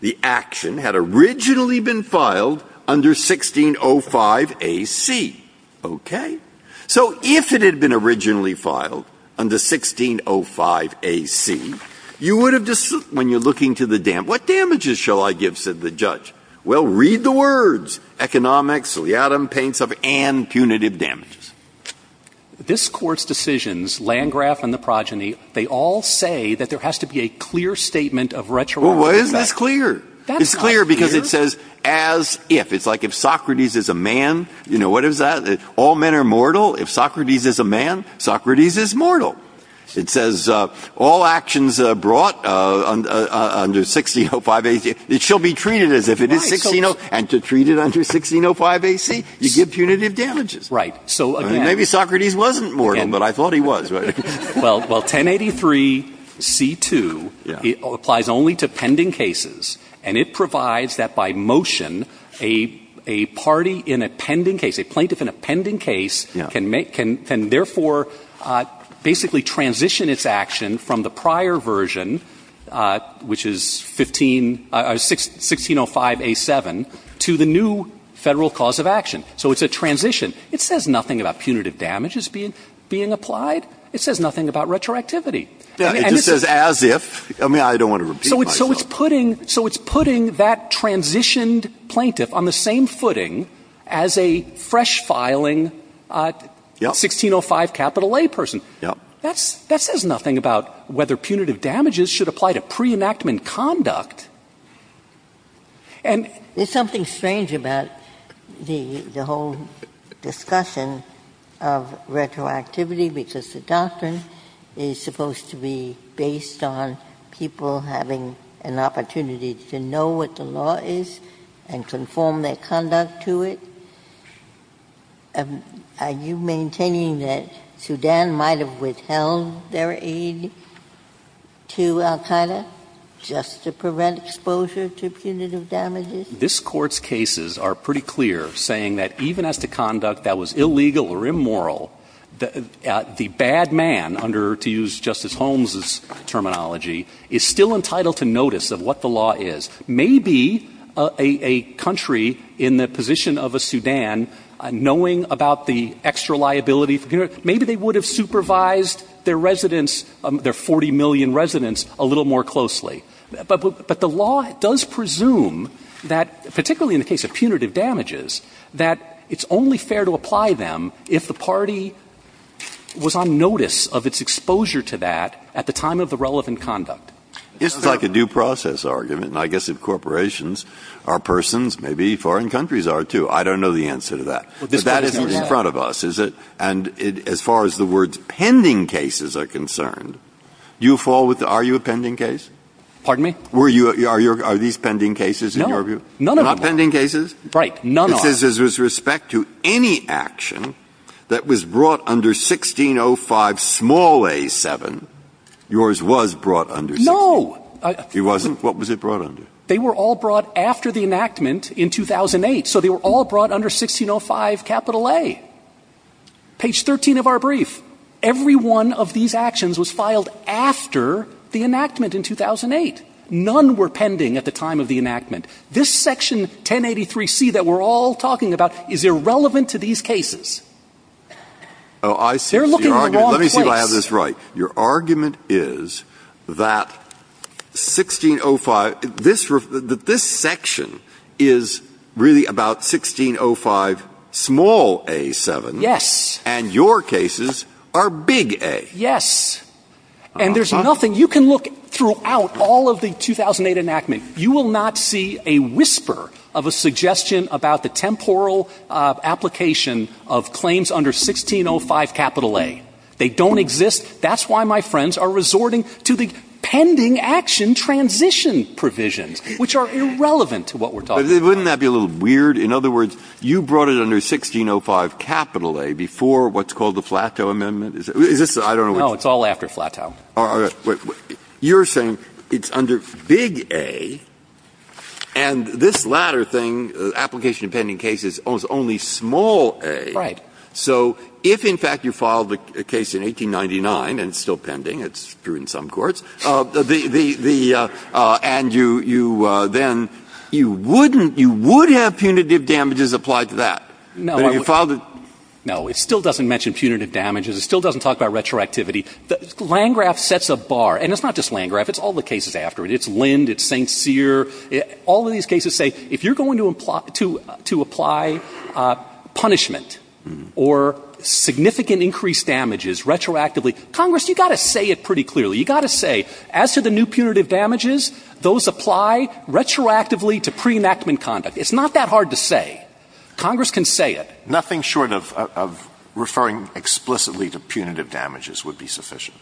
the action had originally been filed under 1605A.C. Okay. So if it had been originally filed under 1605A.C., you would have, when you're looking to the dam, what damages shall I give, said the judge? Well, read the words. Economic, so the atom paints up, and punitive damages. This Court's decisions, Landgraf and the progeny, they all say that there has to be a clear statement of retroactivity. Well, why isn't this clear? It's clear because it says as if. It's like if Socrates is a man, you know, what is that? All men are mortal. If Socrates is a man, Socrates is mortal. It says all actions brought under 1605A.C. It shall be treated as if it is 1605A.C. And to treat it under 1605A.C., you give punitive damages. Right. So again. Maybe Socrates wasn't mortal, but I thought he was. Well, 1083C.2 applies only to pending cases. And it provides that by motion, a party in a pending case, a plaintiff in a pending case can therefore basically transition its action from the prior version, which is 1605A.7, to the new Federal cause of action. So it's a transition. It says nothing about punitive damages being applied. It says nothing about retroactivity. It just says as if. I mean, I don't want to repeat myself. So it's putting that transitioned plaintiff on the same footing as a fresh-filing 1605A person. Yes. That says nothing about whether punitive damages should apply to pre-enactment conduct. And there's something strange about the whole discussion of retroactivity, because the doctrine is supposed to be based on people having an opportunity to know what the law is and conform their conduct to it. Are you maintaining that Sudan might have withheld their aid to al-Qaeda just to prevent exposure to punitive damages? This Court's cases are pretty clear, saying that even as to conduct that was illegal or immoral, the bad man under, to use Justice Holmes' terminology, is still entitled to notice of what the law is. Maybe a country in the position of a Sudan, knowing about the extra liability for punitive damages, maybe they would have supervised their residents, their 40 million residents, a little more closely. But the law does presume that, particularly in the case of punitive damages, that it's only fair to apply them if the party was on notice of its exposure to that at the time of the relevant conduct. This is like a due process argument. And I guess if corporations are persons, maybe foreign countries are, too. I don't know the answer to that. But that is what's in front of us, is it? And as far as the words pending cases are concerned, do you fall with the, are you a pending case? Pardon me? Are these pending cases in your view? None of them are. Not pending cases? Right. None of them are. This is with respect to any action that was brought under 1605, small a, 7. Yours was brought under 1605. No. It wasn't? What was it brought under? They were all brought after the enactment in 2008. So they were all brought under 1605, capital A. Page 13 of our brief, every one of these actions was filed after the enactment in 2008. None were pending at the time of the enactment. This section 1083C that we're all talking about is irrelevant to these cases. They're looking in the wrong place. Let me see if I have this right. Your argument is that 1605, this section is really about 1605, small a, 7. Yes. And your cases are big A. Yes. And there's nothing. You can look throughout all of the 2008 enactment. You will not see a whisper of a suggestion about the temporal application of claims under 1605, capital A. They don't exist. That's why my friends are resorting to the pending action transition provisions, which are irrelevant to what we're talking about. But wouldn't that be a little weird? In other words, you brought it under 1605, capital A, before what's called the plateau amendment. Is this the one? No, it's all after plateau. You're saying it's under big A, and this latter thing, application of pending cases, is only small a. Right. So if, in fact, you filed a case in 1899, and it's still pending, it's true in some courts, the — and you then — you wouldn't — you would have punitive damages applied to that. No. But if you filed it — No. It still doesn't mention punitive damages. It still doesn't talk about retroactivity. Landgraf sets a bar. And it's not just Landgraf. It's all the cases after it. It's Lind, it's St. Cyr. All of these cases say, if you're going to apply punishment or significant increased damages retroactively, Congress, you've got to say it pretty clearly. You've got to say, as to the new punitive damages, those apply retroactively to pre-enactment conduct. It's not that hard to say. Congress can say it. Nothing short of referring explicitly to punitive damages would be sufficient.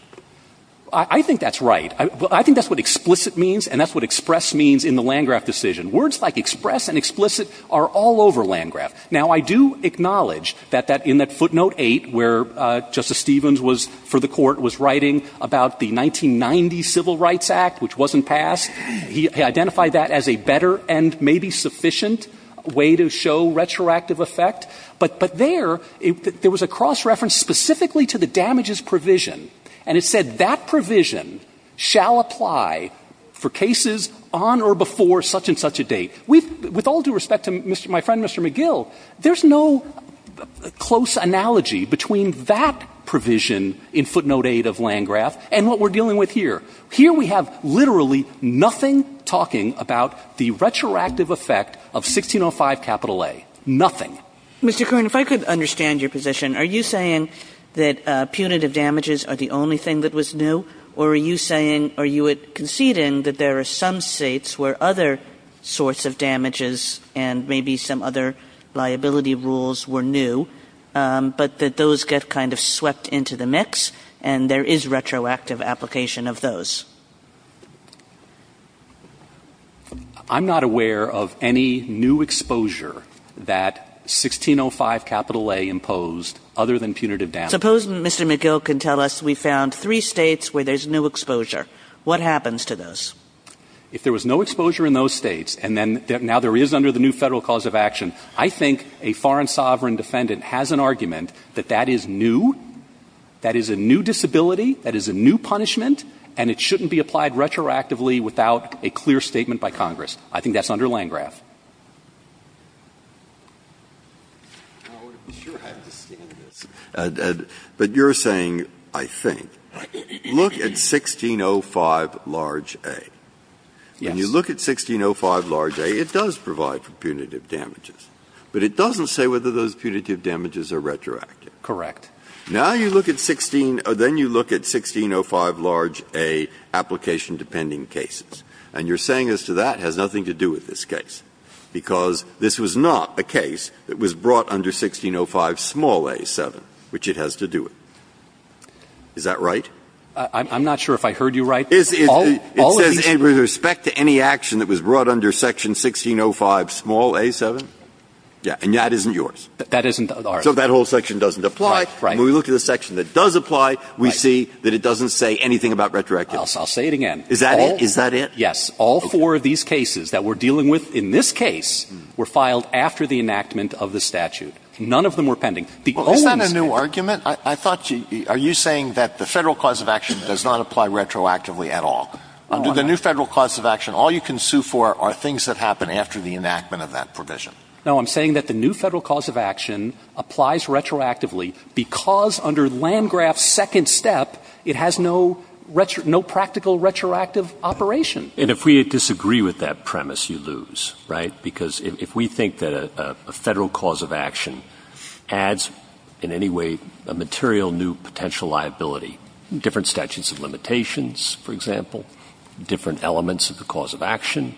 I think that's right. Well, I think that's what explicit means, and that's what express means in the Landgraf decision. Words like express and explicit are all over Landgraf. Now, I do acknowledge that in that footnote 8, where Justice Stevens was — for the Court, was writing about the 1990 Civil Rights Act, which wasn't passed, he identified that as a better and maybe sufficient way to show retroactive effect. But there, there was a cross-reference specifically to the damages provision. And it said that provision shall apply for cases on or before such-and-such a date. We've — with all due respect to Mr. — my friend, Mr. McGill, there's no close analogy between that provision in footnote 8 of Landgraf and what we're dealing with here. Here, we have literally nothing talking about the retroactive effect of 1605 capital A. Nothing. Mr. Kern, if I could understand your position, are you saying that punitive damages are the only thing that was new, or are you saying — are you conceding that there are some states where other sorts of damages and maybe some other liability rules were new, but that those get kind of swept into the mix and there is retroactive application of those? I'm not aware of any new exposure that 1605 capital A imposed other than punitive damages. Suppose Mr. McGill can tell us we found three states where there's new exposure. What happens to those? If there was no exposure in those states, and then now there is under the new Federal cause of action, I think a foreign sovereign defendant has an argument that that is new, that is a new disability, that is a new punishment, and it shouldn't be applied retroactively without a clear statement by Congress. I think that's under Landgraf. Breyer. But you're saying, I think, look at 1605 large A. Yes. When you look at 1605 large A, it does provide for punitive damages. But it doesn't say whether those punitive damages are retroactive. Correct. Now you look at 16 — then you look at 1605 large A application-dependent cases, and you're saying as to that has nothing to do with this case, because this was not a case that was brought under 1605 small A 7, which it has to do it. Is that right? I'm not sure if I heard you right. It says with respect to any action that was brought under section 1605 small A 7. Yes. And that isn't yours. That isn't ours. So that whole section doesn't apply. Right. When we look at the section that does apply, we see that it doesn't say anything about retroactive. I'll say it again. Is that it? Is that it? Yes. All four of these cases that we're dealing with in this case were filed after the enactment of the statute. None of them were pending. Is that a new argument? I thought you — are you saying that the Federal cause of action does not apply retroactively at all? Under the new Federal cause of action, all you can sue for are things that happen after the enactment of that provision. No. I'm saying that the new Federal cause of action applies retroactively because under Landgraf's second step, it has no practical retroactive operation. And if we disagree with that premise, you lose, right? Because if we think that a Federal cause of action adds in any way a material new potential liability, different statutes of limitations, for example, different elements of the cause of action,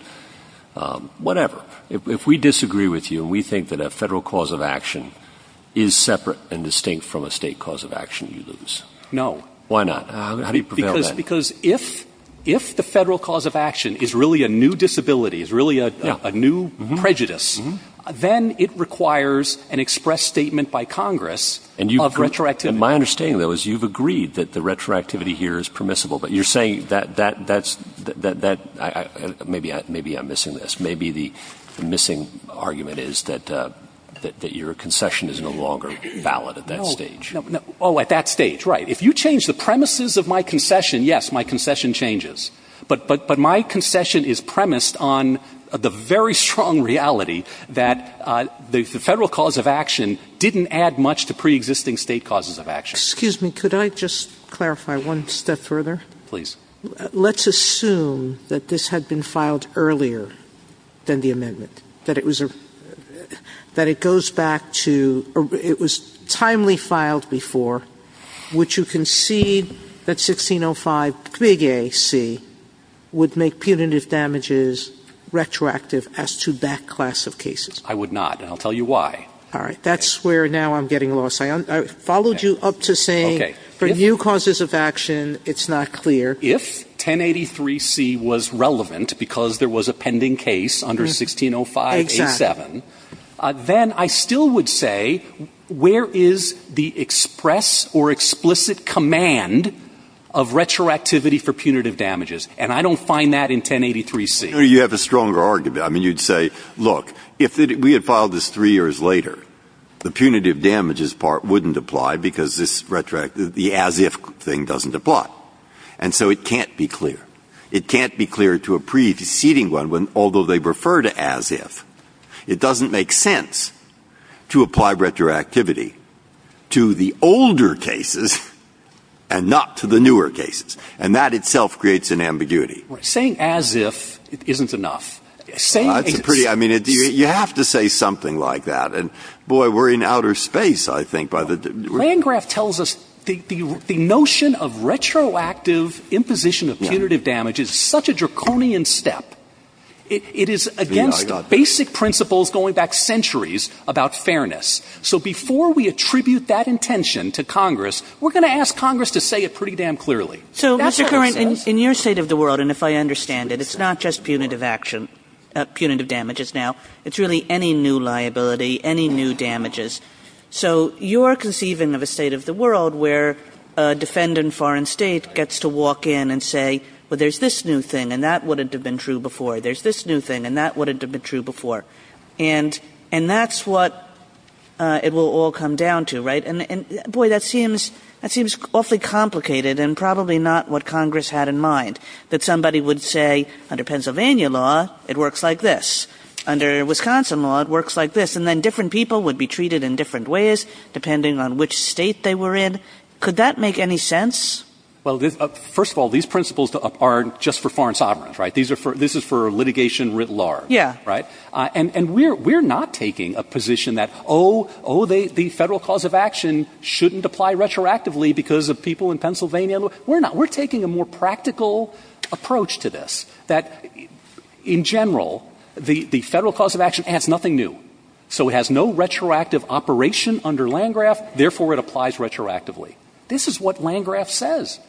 whatever. If we disagree with you and we think that a Federal cause of action is separate and distinct from a State cause of action, you lose. No. Why not? How do you prevail then? Because if the Federal cause of action is really a new disability, is really a new prejudice, then it requires an express statement by Congress of retroactivity. And my understanding, though, is you've agreed that the retroactivity here is permissible, but you're saying that that's — maybe I'm missing this. Maybe the missing argument is that your concession is no longer valid at that stage. No. Oh, at that stage. Right. If you change the premises of my concession, yes, my concession changes. But my concession is premised on the very strong reality that the Federal cause of action didn't add much to preexisting State causes of action. Excuse me. Could I just clarify one step further? Please. Let's assume that this had been filed earlier than the amendment, that it was a — that it goes back to — it was timely filed before. Would you concede that 1605, Big A.C., would make punitive damages retroactive as to that class of cases? I would not, and I'll tell you why. All right. That's where now I'm getting lost. I followed you up to saying for new causes of action, it's not clear. If 1083C was relevant because there was a pending case under 1605A7, then I still would say, where is the express or explicit command of retroactivity for punitive damages? And I don't find that in 1083C. You have a stronger argument. I mean, you'd say, look, if we had filed this three years later, the punitive damages part wouldn't apply because this — the as-if thing doesn't apply. And so it can't be clear. It can't be clear to a preceding one, although they refer to as-if. It doesn't make sense to apply retroactivity to the older cases and not to the newer cases. And that itself creates an ambiguity. Saying as-if isn't enough. Saying — That's a pretty — I mean, you have to say something like that. And, boy, we're in outer space, I think, by the — Landgraf tells us the notion of retroactive imposition of punitive damage is such a draconian step. It is against the basic principles going back centuries about fairness. So before we attribute that intention to Congress, we're going to ask Congress to say it pretty damn clearly. That's what it says. So, Mr. Curran, in your state of the world, and if I understand it, it's not just punitive action — punitive damages now. It's really any new liability, any new damages. So you're conceiving of a state of the world where a defendant in a foreign state gets to walk in and say, well, there's this new thing, and that wouldn't have been true before. There's this new thing, and that wouldn't have been true before. And that's what it will all come down to, right? And, boy, that seems awfully complicated and probably not what Congress had in mind, that somebody would say, under Pennsylvania law, it works like this. Under Wisconsin law, it works like this. And then different people would be treated in different ways depending on which state they were in. Could that make any sense? Well, first of all, these principles are just for foreign sovereigns, right? This is for litigation writ large, right? Yeah. And we're not taking a position that, oh, the federal cause of action shouldn't apply retroactively because of people in Pennsylvania. We're not. We're taking a more practical approach to this, that, in general, the federal cause of action adds nothing new. So it has no retroactive operation under Landgraf, therefore it applies retroactively. This is what Landgraf says.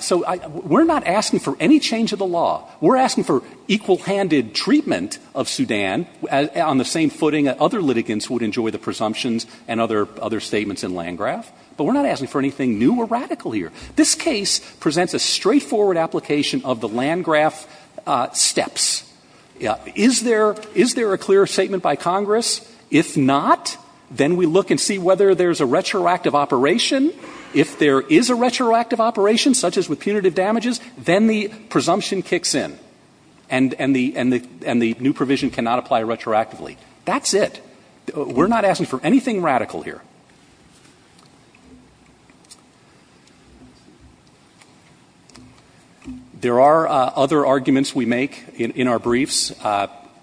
So we're not asking for any change of the law. We're asking for equal-handed treatment of Sudan on the same footing that other litigants would enjoy the presumptions and other statements in Landgraf. But we're not asking for anything new or radical here. This case presents a straightforward application of the Landgraf steps. Is there a clear statement by Congress? If not, then we look and see whether there's a retroactive operation. If there is a retroactive operation, such as with punitive damages, then the presumption kicks in and the new provision cannot apply retroactively. That's it. We're not asking for anything radical here. There are other arguments we make in our briefs,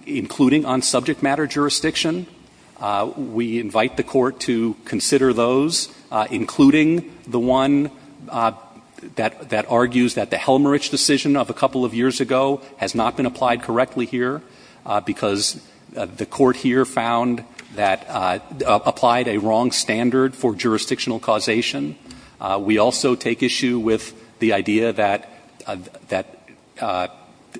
including on subject matter jurisdiction. We invite the Court to consider those, including the one that argues that the Helmrich decision of a couple of years ago has not been applied correctly here, because the Court here found that applied a wrong standard for jurisdictional causation. We also take issue with the idea that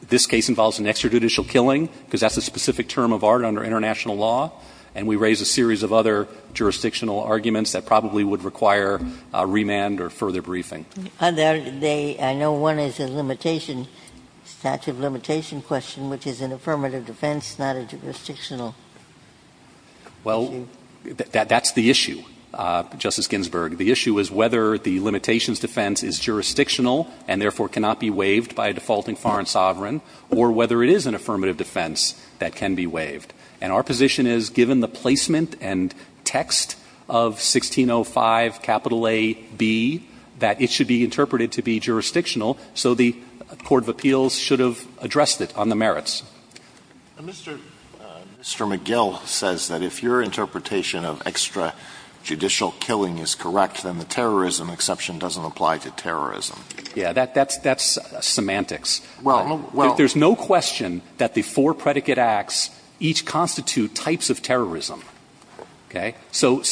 this case involves an extrajudicial killing, because that's a specific term of art under international law. And we raise a series of other jurisdictional arguments that probably would require remand or further briefing. Ginsburg. I know one is a limitation, statute of limitation question, which is an affirmative defense, not a jurisdictional issue. Well, that's the issue, Justice Ginsburg. The issue is whether the limitations defense is jurisdictional and therefore cannot be waived by a defaulting foreign sovereign, or whether it is an affirmative defense that can be waived. And our position is, given the placement and text of 1605, capital A, B, that it should be interpreted to be jurisdictional, so the court of appeals should have addressed it on the merits. Mr. McGill says that if your interpretation of extrajudicial killing is correct, then the terrorism exception doesn't apply to terrorism. Yes. That's semantics. There's no question that the four predicate acts each constitute types of terrorism. Okay? So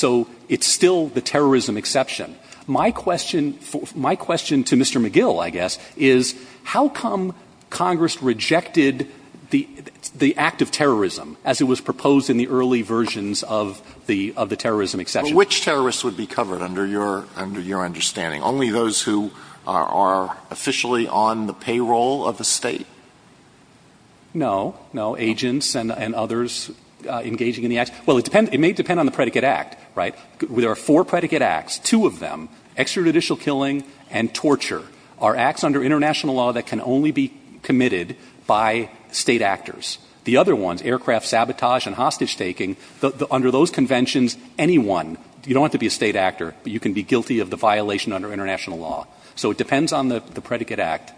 it's still the terrorism exception. My question to Mr. McGill, I guess, is how come Congress rejected the act of terrorism as it was proposed in the early versions of the terrorism exception? But which terrorists would be covered under your understanding? Only those who are officially on the payroll of the State? No. No. Agents and others engaging in the act. Well, it may depend on the predicate act, right? There are four predicate acts, two of them, extrajudicial killing and torture, are acts under international law that can only be committed by State actors. The other ones, aircraft sabotage and hostage-taking, under those conventions, anyone, you don't have to be a State actor, but you can be guilty of the violation under international law. So it depends on the predicate act.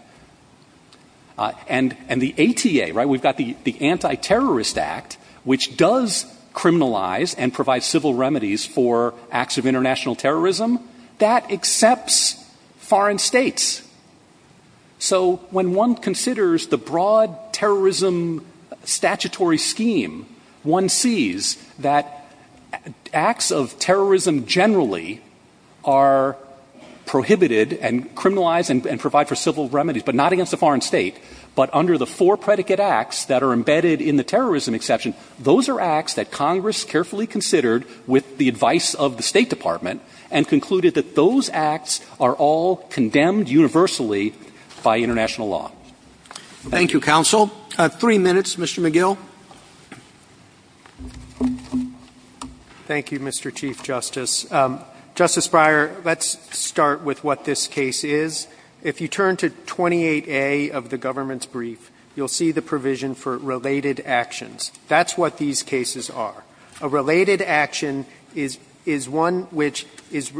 And the ATA, right, we've got the Anti-Terrorist Act, which does criminalize and provide civil remedies for acts of international terrorism. That accepts foreign States. So when one considers the broad terrorism statutory scheme, one sees that acts of terrorism generally are prohibited and criminalized and provide for civil remedies, but not against a foreign State. But under the four predicate acts that are embedded in the terrorism exception, those are acts that Congress carefully considered with the advice of the State Department and concluded that those acts are all condemned universally by international Thank you. Roberts. Thank you, counsel. Three minutes, Mr. McGill. McGill. Thank you, Mr. Chief Justice. Justice Breyer, let's start with what this case is. If you turn to 28A of the government's brief, you'll see the provision for related actions. That's what these cases are. A related action is one which is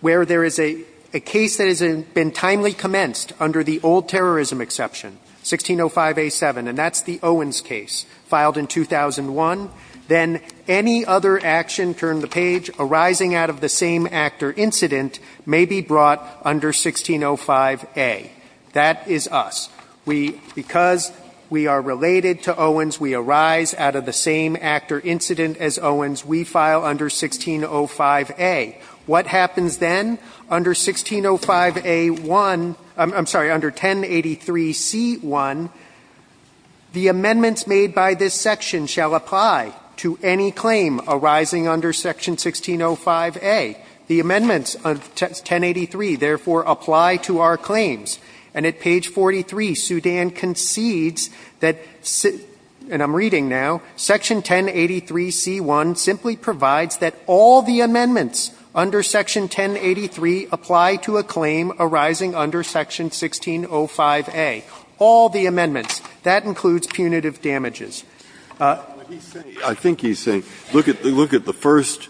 where there is a case that has been timely commenced under the old terrorism exception, 1605A7, and that's the Owens case, filed in 2001. Then any other action, turn the page, arising out of the same act or incident, may be brought under 1605A. That is us. Because we are related to Owens, we arise out of the same act or incident as Owens, we file under 1605A. What happens then? Under 1605A1, I'm sorry, under 1083C1, the amendments made by this section shall apply to any claim arising under section 1605A. The amendments of 1083, therefore, apply to our claims. And at page 43, Sudan concedes that, and I'm reading now, section 1083C1 simply provides that all the amendments under section 1083 apply to a claim arising under section 1605A, all the amendments. That includes punitive damages. Breyer. I think he's saying, look at the first,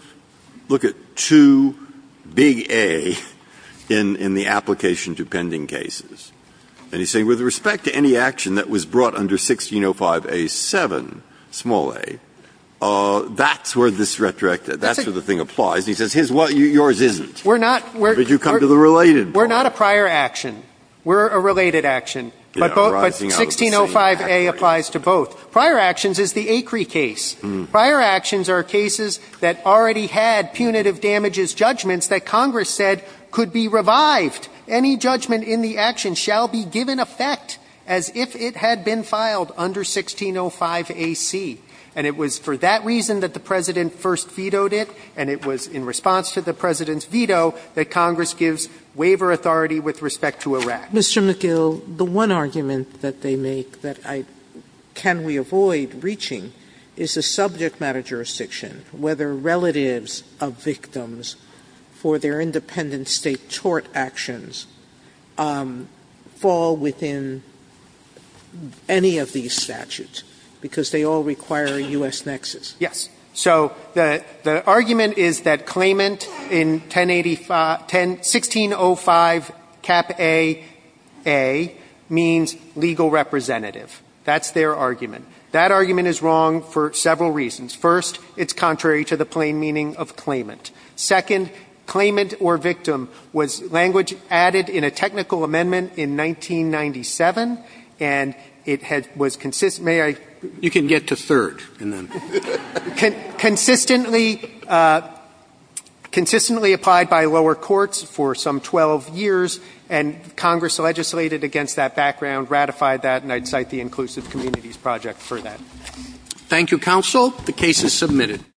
look at two big A in the application to pending cases. And he's saying with respect to any action that was brought under 1605A7, small A, that's where this retroactive, that's where the thing applies. And he says his, yours isn't. We're not. But you come to the related one. We're not a prior action. We're a related action. But 1605A applies to both. Prior actions is the Acri case. Prior actions are cases that already had punitive damages judgments that Congress said could be revived. Any judgment in the action shall be given effect as if it had been filed under 1605A.C. And it was for that reason that the President first vetoed it, and it was in response to the President's veto that Congress gives waiver authority with respect to Iraq. Mr. McGill, the one argument that they make that I, can we avoid reaching is a subject matter jurisdiction, whether relatives of victims for their independent state tort actions fall within any of these statutes, because they all require a U.S. nexus. Yes. So the argument is that claimant in 1605 cap AA means legal representative. That's their argument. That argument is wrong for several reasons. First, it's contrary to the plain meaning of claimant. Second, claimant or victim was language added in a technical amendment in 1997, and it was consistent. May I? You can get to third. Consistently applied by lower courts for some 12 years, and Congress legislated against that background, ratified that, and I'd cite the Inclusive Communities Project for that. Thank you, counsel. The case is submitted.